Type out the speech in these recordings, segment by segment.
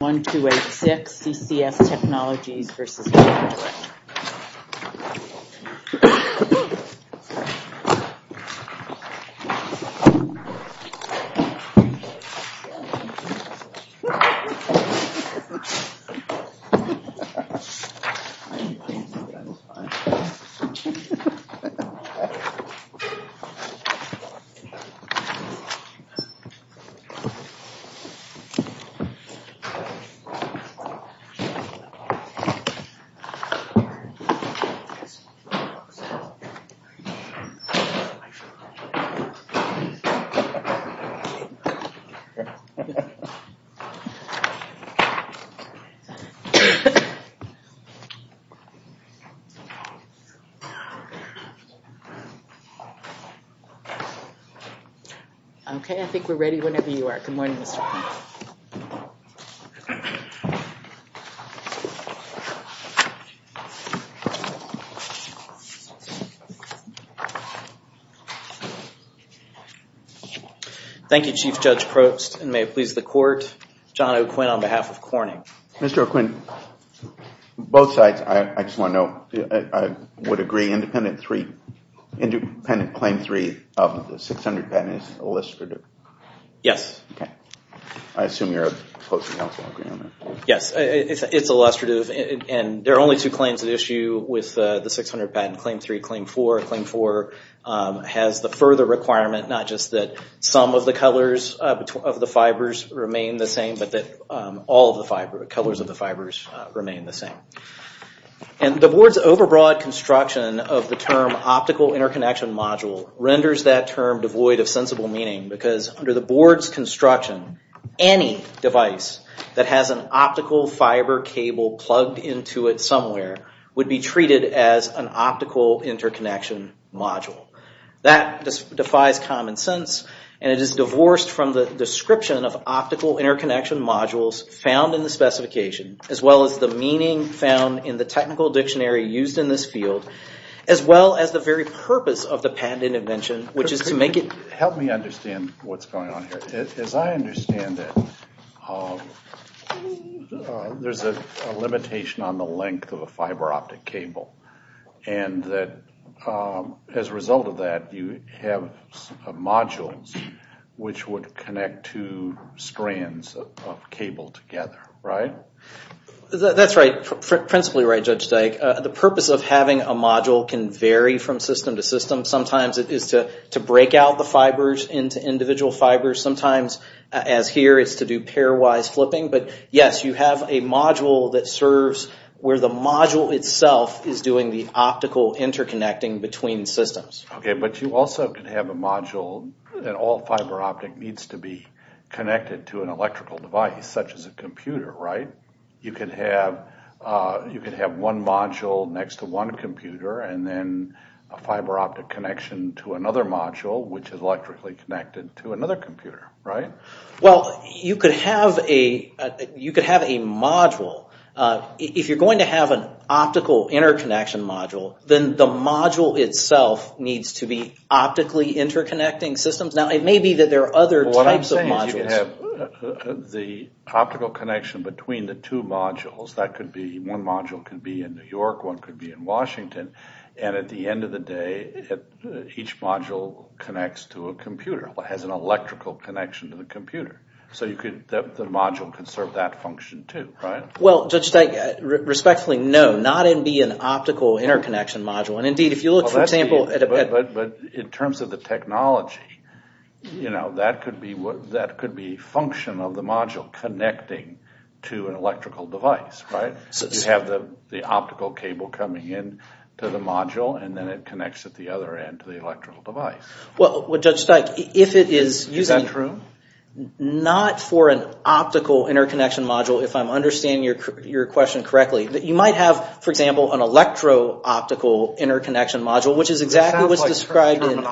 1, 2, 8, 6, CCS Technologies versus. 1, 2, 8, 6, CCS Technologies versus. Thank you, Chief Judge Probst, and may it please the court, John O'Quinn on behalf of Corning. Mr. O'Quinn, both sides, I just want to know, I would agree independent three, independent claim three of the 600 pen is illicit or due? Yes. Okay. I assume you're opposing counsel on that. Yes. It's illustrative, and there are only two claims at issue with the 600 pen, claim three, claim four. Claim four has the further requirement, not just that some of the colors of the fibers remain the same, but that all of the colors of the fibers remain the same. And the board's overbroad construction of the term optical interconnection module renders that term devoid of sensible meaning, because under the board's construction, any device that has an optical fiber cable plugged into it somewhere would be treated as an optical interconnection module. That defies common sense, and it is divorced from the description of optical interconnection modules found in the specification, as well as the meaning found in the technical dictionary used in this field, as well as the very purpose of the patent intervention, which is to make it... Help me understand what's going on here. As I understand it, there's a limitation on the length of a fiber optic cable, and that as a result of that, you have modules which would connect two strands of cable together, right? That's right. Principally right, Judge Steig. The purpose of having a module can vary from system to system. Sometimes it is to break out the fibers into individual fibers. Sometimes, as here, it's to do pairwise flipping. But yes, you have a module that serves where the module itself is doing the optical interconnecting between systems. Okay, but you also could have a module that all fiber optic needs to be connected to an electrical device, such as a computer, right? You could have one module next to one computer, and then a fiber optic connection to another module, which is electrically connected to another computer, right? Well, you could have a module. If you're going to have an optical interconnection module, then the module itself needs to be optically interconnecting systems. Now, it may be that there are other types of modules. If you have the optical connection between the two modules, that could be one module could be in New York, one could be in Washington, and at the end of the day, each module connects to a computer, has an electrical connection to the computer. So the module can serve that function too, right? Well, Judge Steig, respectfully, no. Not in being an optical interconnection module, and indeed, if you look, for example, at a But in terms of the technology, you know, that could be function of the module connecting to an electrical device, right? So you have the optical cable coming in to the module, and then it connects at the other end to the electrical device. Well, Judge Steig, if it is using... Is that true? Not for an optical interconnection module, if I'm understanding your question correctly. You might have, for example, an electro-optical interconnection module, which is exactly what's described in Eichenberger.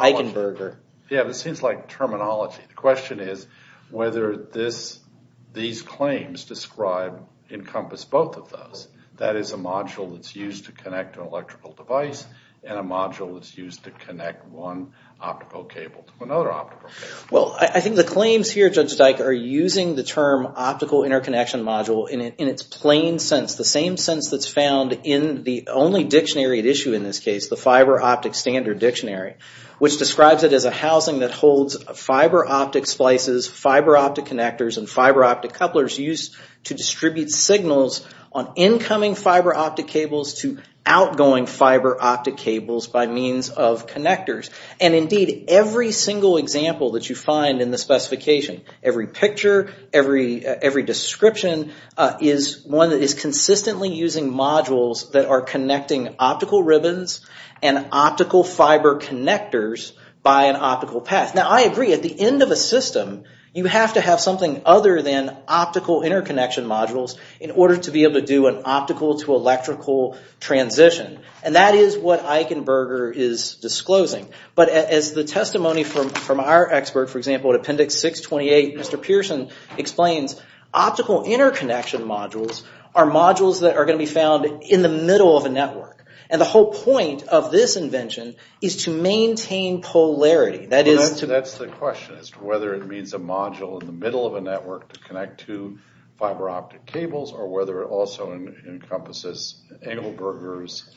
It sounds like terminology. Yeah, but it seems like terminology. The question is whether these claims described encompass both of those. That is a module that's used to connect an electrical device, and a module that's used to connect one optical cable to another optical cable. Well, I think the claims here, Judge Steig, are using the term optical interconnection module in its plain sense, the same sense that's found in the only dictionary at issue in this case, the fiber-optic standard dictionary, which describes it as a housing that holds fiber-optic splices, fiber-optic connectors, and fiber-optic couplers used to distribute signals on incoming fiber-optic cables to outgoing fiber-optic cables by means of connectors. And indeed, every single example that you find in the specification, every picture, every description, is one that is consistently using modules that are connecting optical ribbons and optical fiber connectors by an optical path. Now, I agree. At the end of a system, you have to have something other than optical interconnection modules in order to be able to do an optical-to-electrical transition. And that is what Eichenberger is disclosing. But as the testimony from our expert, for example, at Appendix 628, Mr. Pearson explains, optical interconnection modules are modules that are going to be found in the middle of a network. And the whole point of this invention is to maintain polarity. That is to... Well, that's the question as to whether it means a module in the middle of a network to connect to fiber-optic cables or whether it also encompasses Eichenberger's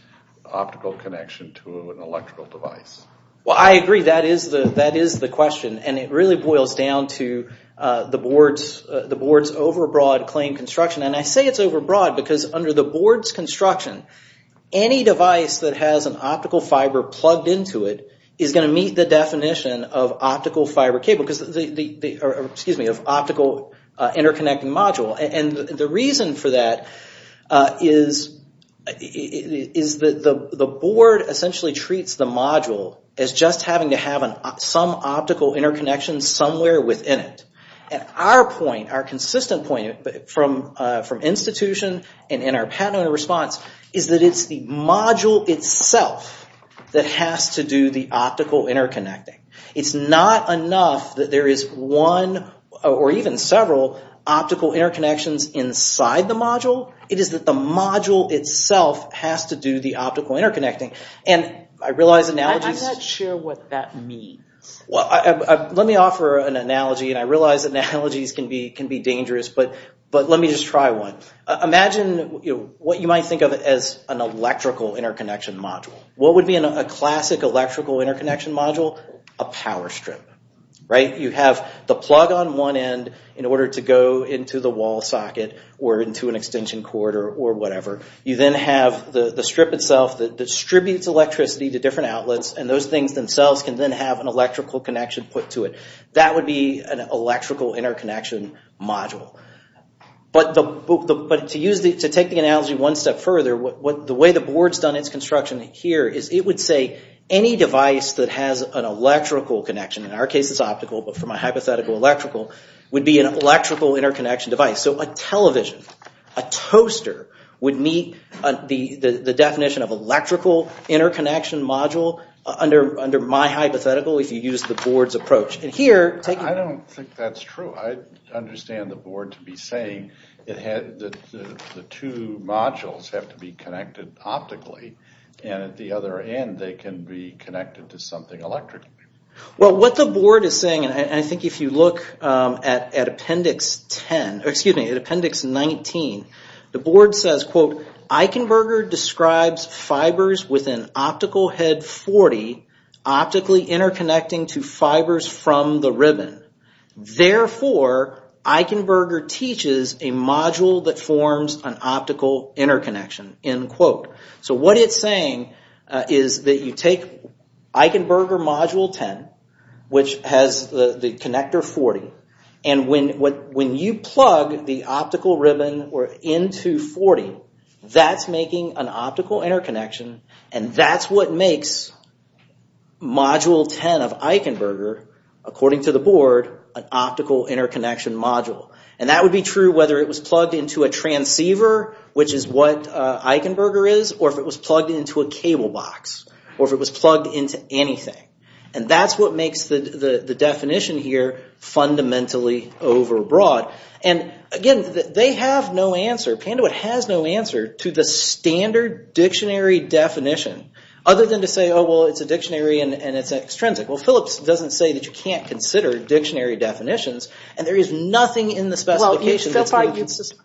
optical connection to an electrical device. Well, I agree. That is the question. And it really boils down to the board's overbroad claim construction. And I say it's overbroad because under the board's construction, any device that has an optical fiber plugged into it is going to meet the definition of optical fiber cable because... Excuse me, of optical interconnecting module. And the reason for that is that the board essentially treats the module as just having to have some optical interconnection somewhere within it. And our point, our consistent point from institution and in our patented response is that it's the module itself that has to do the optical interconnecting. It's not enough that there is one or even several optical interconnections inside the module. It is that the module itself has to do the optical interconnecting. And I realize analogies... I'm not sure what that means. Let me offer an analogy, and I realize analogies can be dangerous, but let me just try one. Imagine what you might think of as an electrical interconnection module. What would be a classic electrical interconnection module? A power strip, right? You have the plug on one end in order to go into the wall socket or into an extension cord or whatever. You then have the strip itself that distributes electricity to different outlets, and those things themselves can then have an electrical connection put to it. That would be an electrical interconnection module. But to take the analogy one step further, the way the board's done its construction here is it would say any device that has an electrical connection, in our case it's optical but from a hypothetical electrical, would be an electrical interconnection device. So a television, a toaster, would meet the definition of electrical interconnection module under my hypothetical if you use the board's approach. I don't think that's true. I understand the board to be saying that the two modules have to be connected optically and at the other end they can be connected to something electrically. Well what the board is saying, and I think if you look at Appendix 19, the board says, quote, Eichenberger describes fibers with an optical head 40 optically interconnecting to fibers from the ribbon. Therefore, Eichenberger teaches a module that forms an optical interconnection, end quote. So what it's saying is that you take Eichenberger module 10, which has the connector 40, and when you plug the optical ribbon into 40, that's making an optical interconnection and that's what makes module 10 of Eichenberger, according to the board, an optical interconnection module. And that would be true whether it was plugged into a transceiver, which is what Eichenberger is, or if it was plugged into a cable box, or if it was plugged into anything. And that's what makes the definition here fundamentally overbroad. And again, they have no answer, Panduit has no answer to the standard dictionary definition other than to say, oh well it's a dictionary and it's extrinsic. Well Phillips doesn't say that you can't consider dictionary definitions and there is nothing in the specification that's...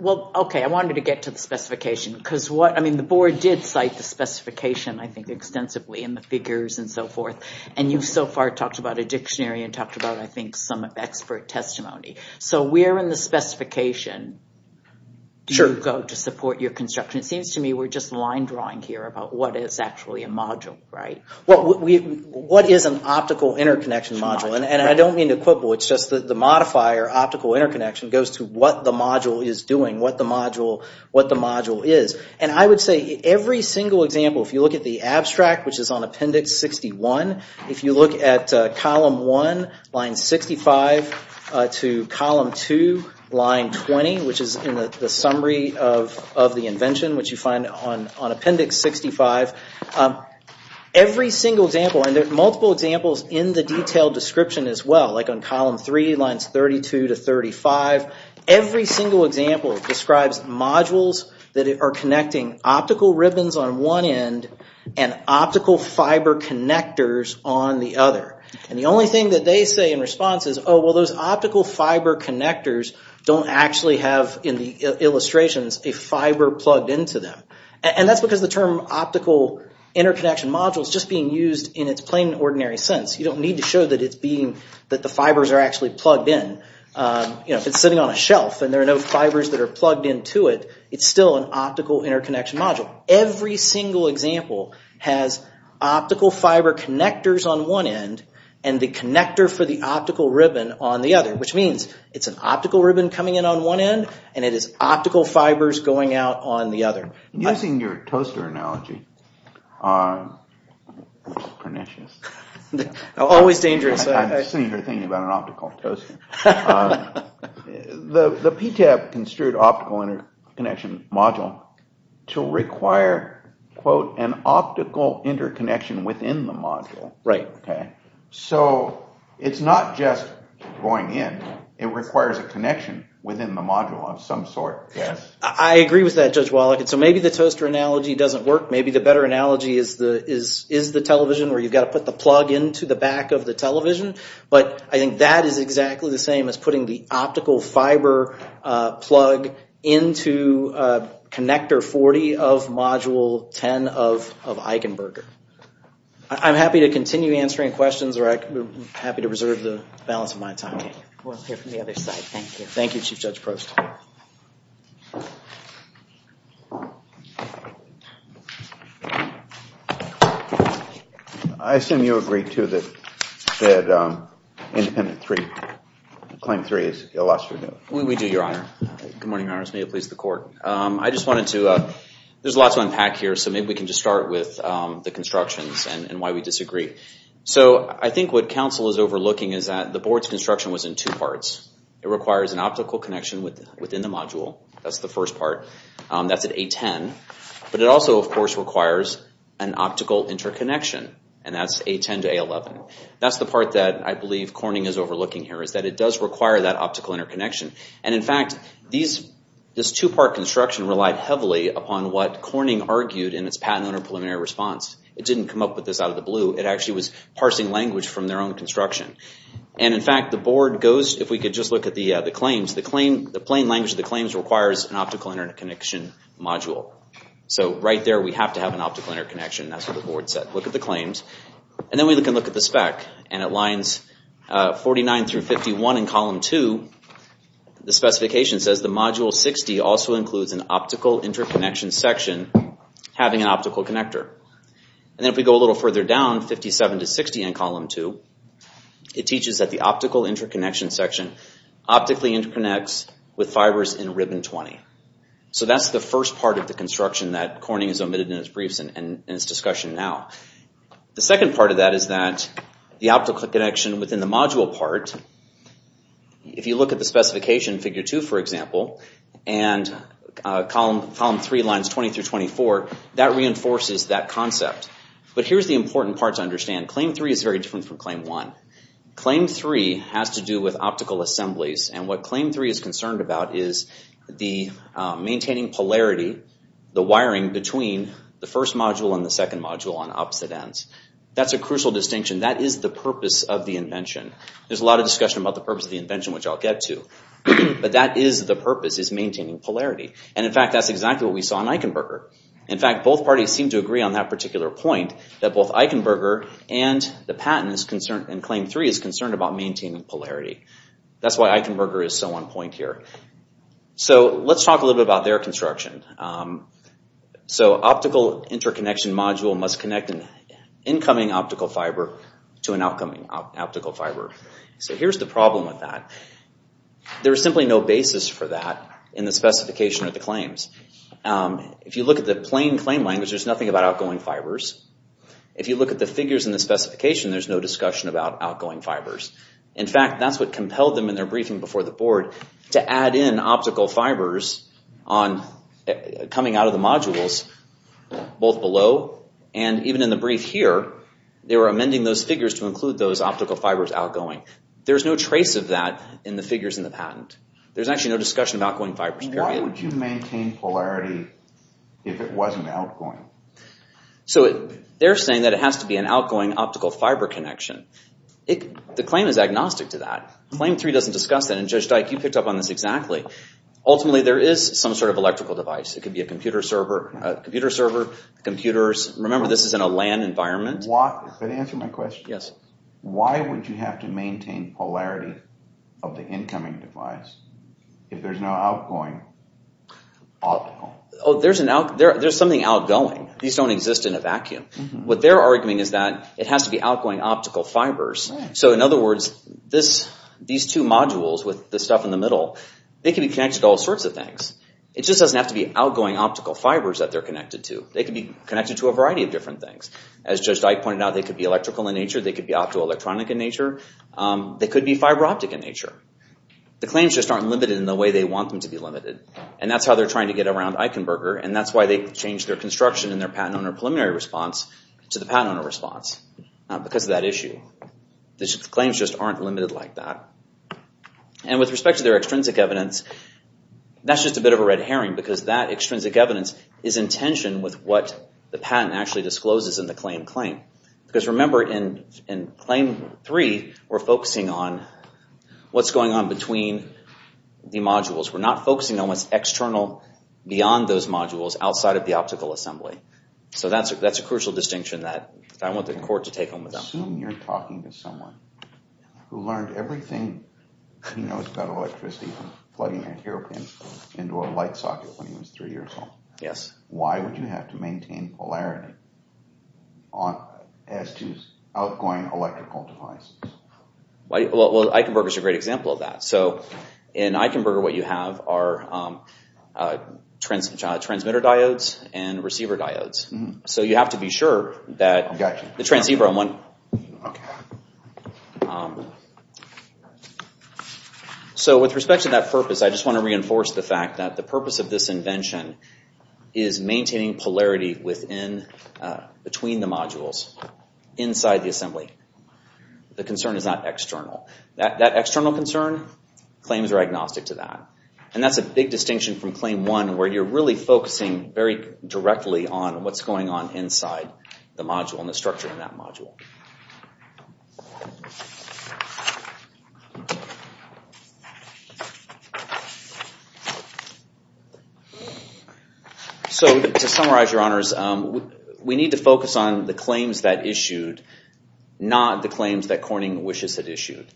Well, okay, I wanted to get to the specification because what, I mean, the board did cite the specification, I think, extensively in the figures and so forth. And you've so far talked about a dictionary and talked about, I think, some of expert testimony. So where in the specification do you go to support your construction? It seems to me we're just line drawing here about what is actually a module, right? Well, what is an optical interconnection module? And I don't mean to quibble, it's just that the modifier optical interconnection goes to what the module is doing, what the module is. And I would say every single example, if you look at the abstract, which is on Appendix 61, if you look at Column 1, Line 65, to Column 2, Line 20, which is in the summary of the invention, which you find on Appendix 65, every single example, and there are multiple examples in the detailed description as well, like on Column 3, Lines 32 to 35, every single example describes modules that are connecting optical ribbons on one end and optical fiber connectors on the other. And the only thing that they say in response is, oh, well, those optical fiber connectors don't actually have, in the illustrations, a fiber plugged into them. And that's because the term optical interconnection module is just being used in its plain, ordinary sense. You don't need to show that it's being, that the fibers are actually plugged in. You know, if it's sitting on a shelf and there are no fibers that are plugged into it, it's still an optical interconnection module. Every single example has optical fiber connectors on one end and the connector for the optical ribbon on the other, which means it's an optical ribbon coming in on one end and it is optical fibers going out on the other. Using your toaster analogy, which is pernicious. Always dangerous. I'm just sitting here thinking about an optical toaster. The PTAB construed optical interconnection module to require, quote, an optical interconnection within the module. Right. So it's not just going in, it requires a connection within the module of some sort. I agree with that, Judge Wallach. And so maybe the toaster analogy doesn't work. Maybe the better analogy is the television where you've got to put the plug into the back of the television. But I think that is exactly the same as putting the optical fiber plug into connector 40 of module 10 of Eichenberger. I'm happy to continue answering questions or I'm happy to reserve the balance of my time. We'll hear from the other side. Thank you. Thank you, Chief Judge Prost. I assume you agree, too, that independent three, claim three is illustrious. We do, Your Honor. Good morning, Your Honors. May it please the court. I just wanted to, there's a lot to unpack here, so maybe we can just start with the constructions and why we disagree. So I think what counsel is overlooking is that the board's construction was in two parts. It requires an optical connection within the module. That's the first part. That's at A10. But it also, of course, requires an optical interconnection, and that's A10 to A11. That's the part that I believe Corning is overlooking here is that it does require that optical interconnection. And, in fact, this two-part construction relied heavily upon what Corning argued in its patent owner preliminary response. It didn't come up with this out of the blue. It actually was parsing language from their own construction. And, in fact, the board goes, if we could just look at the claims, the plain language of the claims requires an optical interconnection module. So right there we have to have an optical interconnection. That's what the board said. Look at the claims. And then we can look at the spec. And it lines 49 through 51 in column 2. The specification says the module 60 also includes an optical interconnection section having an optical connector. And then if we go a little further down, 57 to 60 in column 2, it teaches that the optical interconnection section, optically interconnects with fibers in ribbon 20. So that's the first part of the construction that Corning has omitted in his briefs and in his discussion now. The second part of that is that the optical connection within the module part, if you look at the specification, figure 2, for example, and column 3 lines 20 through 24, that reinforces that concept. But here's the important part to understand. Claim 3 is very different from claim 1. Claim 3 has to do with optical assemblies. And what claim 3 is concerned about is the maintaining polarity, the wiring between the first module and the second module on opposite ends. That's a crucial distinction. That is the purpose of the invention. There's a lot of discussion about the purpose of the invention, which I'll get to. But that is the purpose, is maintaining polarity. And, in fact, that's exactly what we saw in Eichenberger. In fact, both parties seem to agree on that particular point, that both Eichenberger and the patent in claim 3 is concerned about maintaining polarity. That's why Eichenberger is so on point here. Let's talk a little bit about their construction. Optical interconnection module must connect an incoming optical fiber to an outcoming optical fiber. Here's the problem with that. If you look at the plain claim language, there's nothing about outgoing fibers. If you look at the figures in the specification, there's no discussion about outgoing fibers. In fact, that's what compelled them in their briefing before the board to add in optical fibers coming out of the modules, both below and even in the brief here. They were amending those figures to include those optical fibers outgoing. There's no trace of that in the figures in the patent. There's actually no discussion about outgoing fibers, period. Why would you maintain polarity if it wasn't outgoing? They're saying that it has to be an outgoing optical fiber connection. The claim is agnostic to that. Claim 3 doesn't discuss that, and Judge Dyke, you picked up on this exactly. Ultimately, there is some sort of electrical device. It could be a computer server, computers. Remember, this is in a LAN environment. Does that answer my question? Yes. Why would you have to maintain polarity of the incoming device if there's no outgoing optical? There's something outgoing. These don't exist in a vacuum. What they're arguing is that it has to be outgoing optical fibers. In other words, these two modules with the stuff in the middle, they can be connected to all sorts of things. It just doesn't have to be outgoing optical fibers that they're connected to. They can be connected to a variety of different things. As Judge Dyke pointed out, they could be electrical in nature. They could be optoelectronic in nature. They could be fiberoptic in nature. The claims just aren't limited in the way they want them to be limited. That's how they're trying to get around Eichenberger. That's why they changed their construction in their patent owner preliminary response to the patent owner response because of that issue. The claims just aren't limited like that. With respect to their extrinsic evidence, that's just a bit of a red herring because that extrinsic evidence is in tension with what the patent actually discloses in the claim claim. Because remember, in Claim 3, we're focusing on what's going on between the modules. We're not focusing on what's external beyond those modules outside of the optical assembly. So that's a crucial distinction that I want the court to take home with them. Assume you're talking to someone who learned everything, couldn't know he's got electricity from plugging that hero pin into a light socket when he was three years old. Yes. Why would you have to maintain polarity as to outgoing electrical devices? Well, Eichenberger is a great example of that. In Eichenberger, what you have are transmitter diodes and receiver diodes. So you have to be sure that the transceiver... So with respect to that purpose, I just want to reinforce the fact that Eichenberger's concern is maintaining polarity between the modules inside the assembly. The concern is not external. That external concern, claims are agnostic to that. And that's a big distinction from Claim 1 where you're really focusing very directly on what's going on inside the module and the structure in that module. So to summarize, Your Honors, we need to focus on the claims that issued, not the claims that Corning wishes had issued.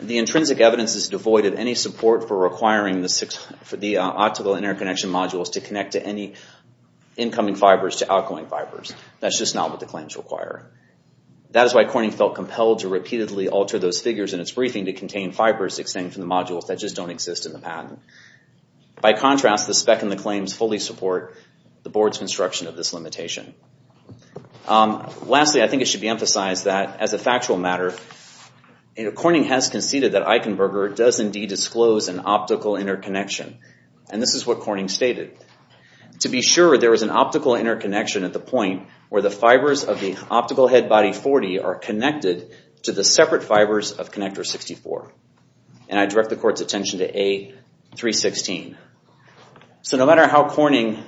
The intrinsic evidence is devoid of any support for requiring the optical interconnection modules to connect to any incoming fibers to outgoing fibers. That's just not what the claims require. That is why Corning felt compelled to repeatedly alter those figures in its briefing to contain fibers extending from the modules that just don't exist in the patent. By contrast, the spec and the claims fully support the Board's construction of this limitation. Lastly, I think it should be emphasized that, as a factual matter, Corning has conceded that Eichenberger does indeed disclose an optical interconnection. And this is what Corning stated. To be sure, there is an optical interconnection at the point where the fibers of the optical head body 40 are connected to the separate fibers of connector 64. And I direct the Court's attention to A316. So no matter how Corning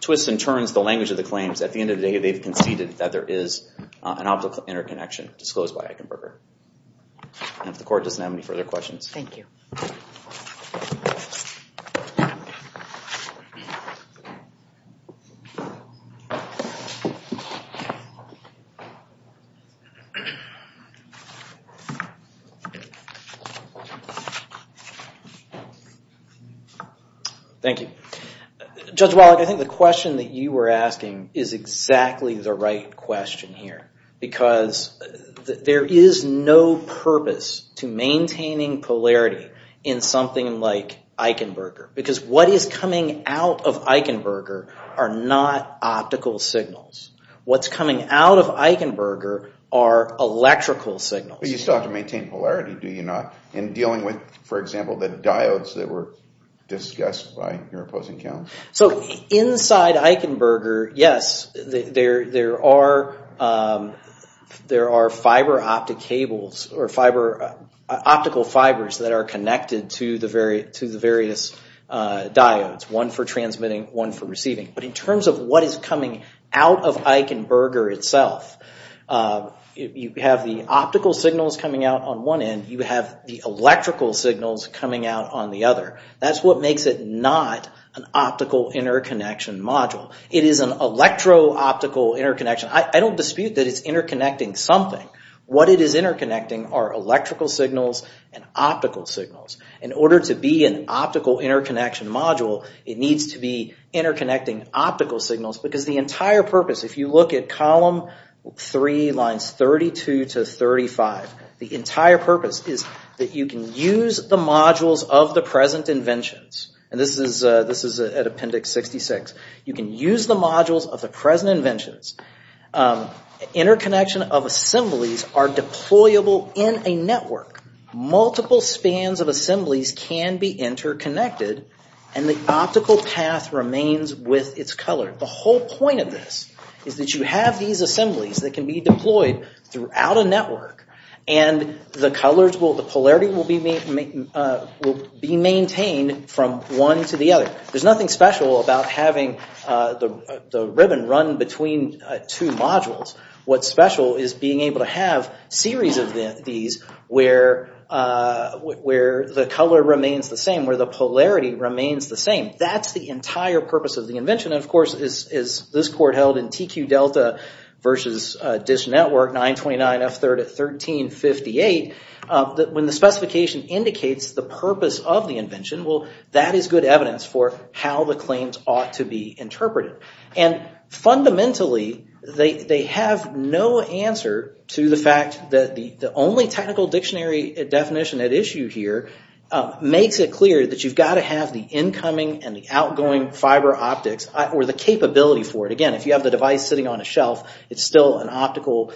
twists and turns the language of the claims, at the end of the day they've conceded that there is an optical interconnection disclosed by Eichenberger. And if the Court doesn't have any further questions. Thank you. Thank you. Judge Wallach, I think the question that you were asking is exactly the right question here. Because there is no purpose to maintaining polarity in something like Eichenberger. Because what is coming out of Eichenberger are not optical signals. What's coming out of Eichenberger are electrical signals. But you still have to maintain polarity, do you not? In dealing with, for example, the diodes that were discussed by your opposing counsel. So inside Eichenberger, yes, there are fiber optic cables or optical fibers that are connected to the various diodes. One for transmitting, one for receiving. But in terms of what is coming out of Eichenberger itself, you have the optical signals coming out on one end. You have the electrical signals coming out on the other. That's what makes it not an optical interconnection module. It is an electro-optical interconnection. I don't dispute that it's interconnecting something. What it is interconnecting are electrical signals and optical signals. In order to be an optical interconnection module, it needs to be interconnecting optical signals. Because the entire purpose, if you look at column 3, lines 32 to 35, the entire purpose is that you can use the modules of the present inventions. This is at Appendix 66. You can use the modules of the present inventions. Interconnection of assemblies are deployable in a network. Multiple spans of assemblies can be interconnected, and the optical path remains with its color. The whole point of this is that you have these assemblies that can be deployed throughout a network, and the colors, the polarity will be maintained from one to the other. There's nothing special about having the ribbon run between two modules. What's special is being able to have series of these where the color remains the same, where the polarity remains the same. That's the entire purpose of the invention. Of course, as this court held in TQ Delta versus DISH Network 929F3 at 1358, when the specification indicates the purpose of the invention, that is good evidence for how the claims ought to be interpreted. Fundamentally, they have no answer to the fact that the only technical dictionary definition at issue here makes it clear that you've got to have the incoming and the outgoing fiber optics. Or the capability for it. Again, if you have the device sitting on a shelf, it's still an optical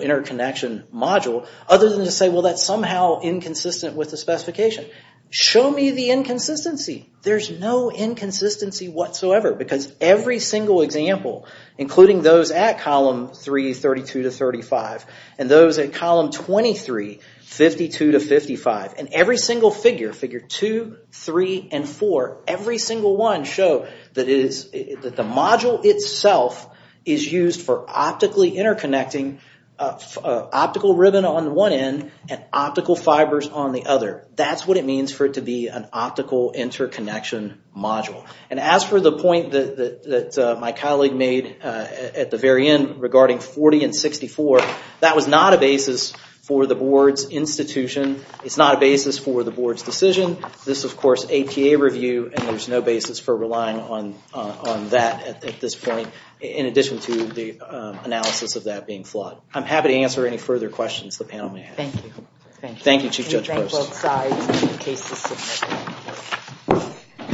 interconnection module. Other than to say, well, that's somehow inconsistent with the specification. Show me the inconsistency. There's no inconsistency whatsoever, because every single example, including those at column 3, 32 to 35, and those at column 23, 52 to 55, and every single figure, figure 2, 3, and 4, every single one show that the module itself is used for optically interconnecting optical ribbon on one end and optical fibers on the other. That's what it means for it to be an optical interconnection module. As for the point that my colleague made at the very end regarding 40 and 64, that was not a basis for the board's institution. It's not a basis for the board's decision. This is, of course, APA review, and there's no basis for relying on that at this point, in addition to the analysis of that being flawed. I'm happy to answer any further questions the panel may have. Thank you. Thank you, Chief Judge Post. Thank both sides. The case is submitted.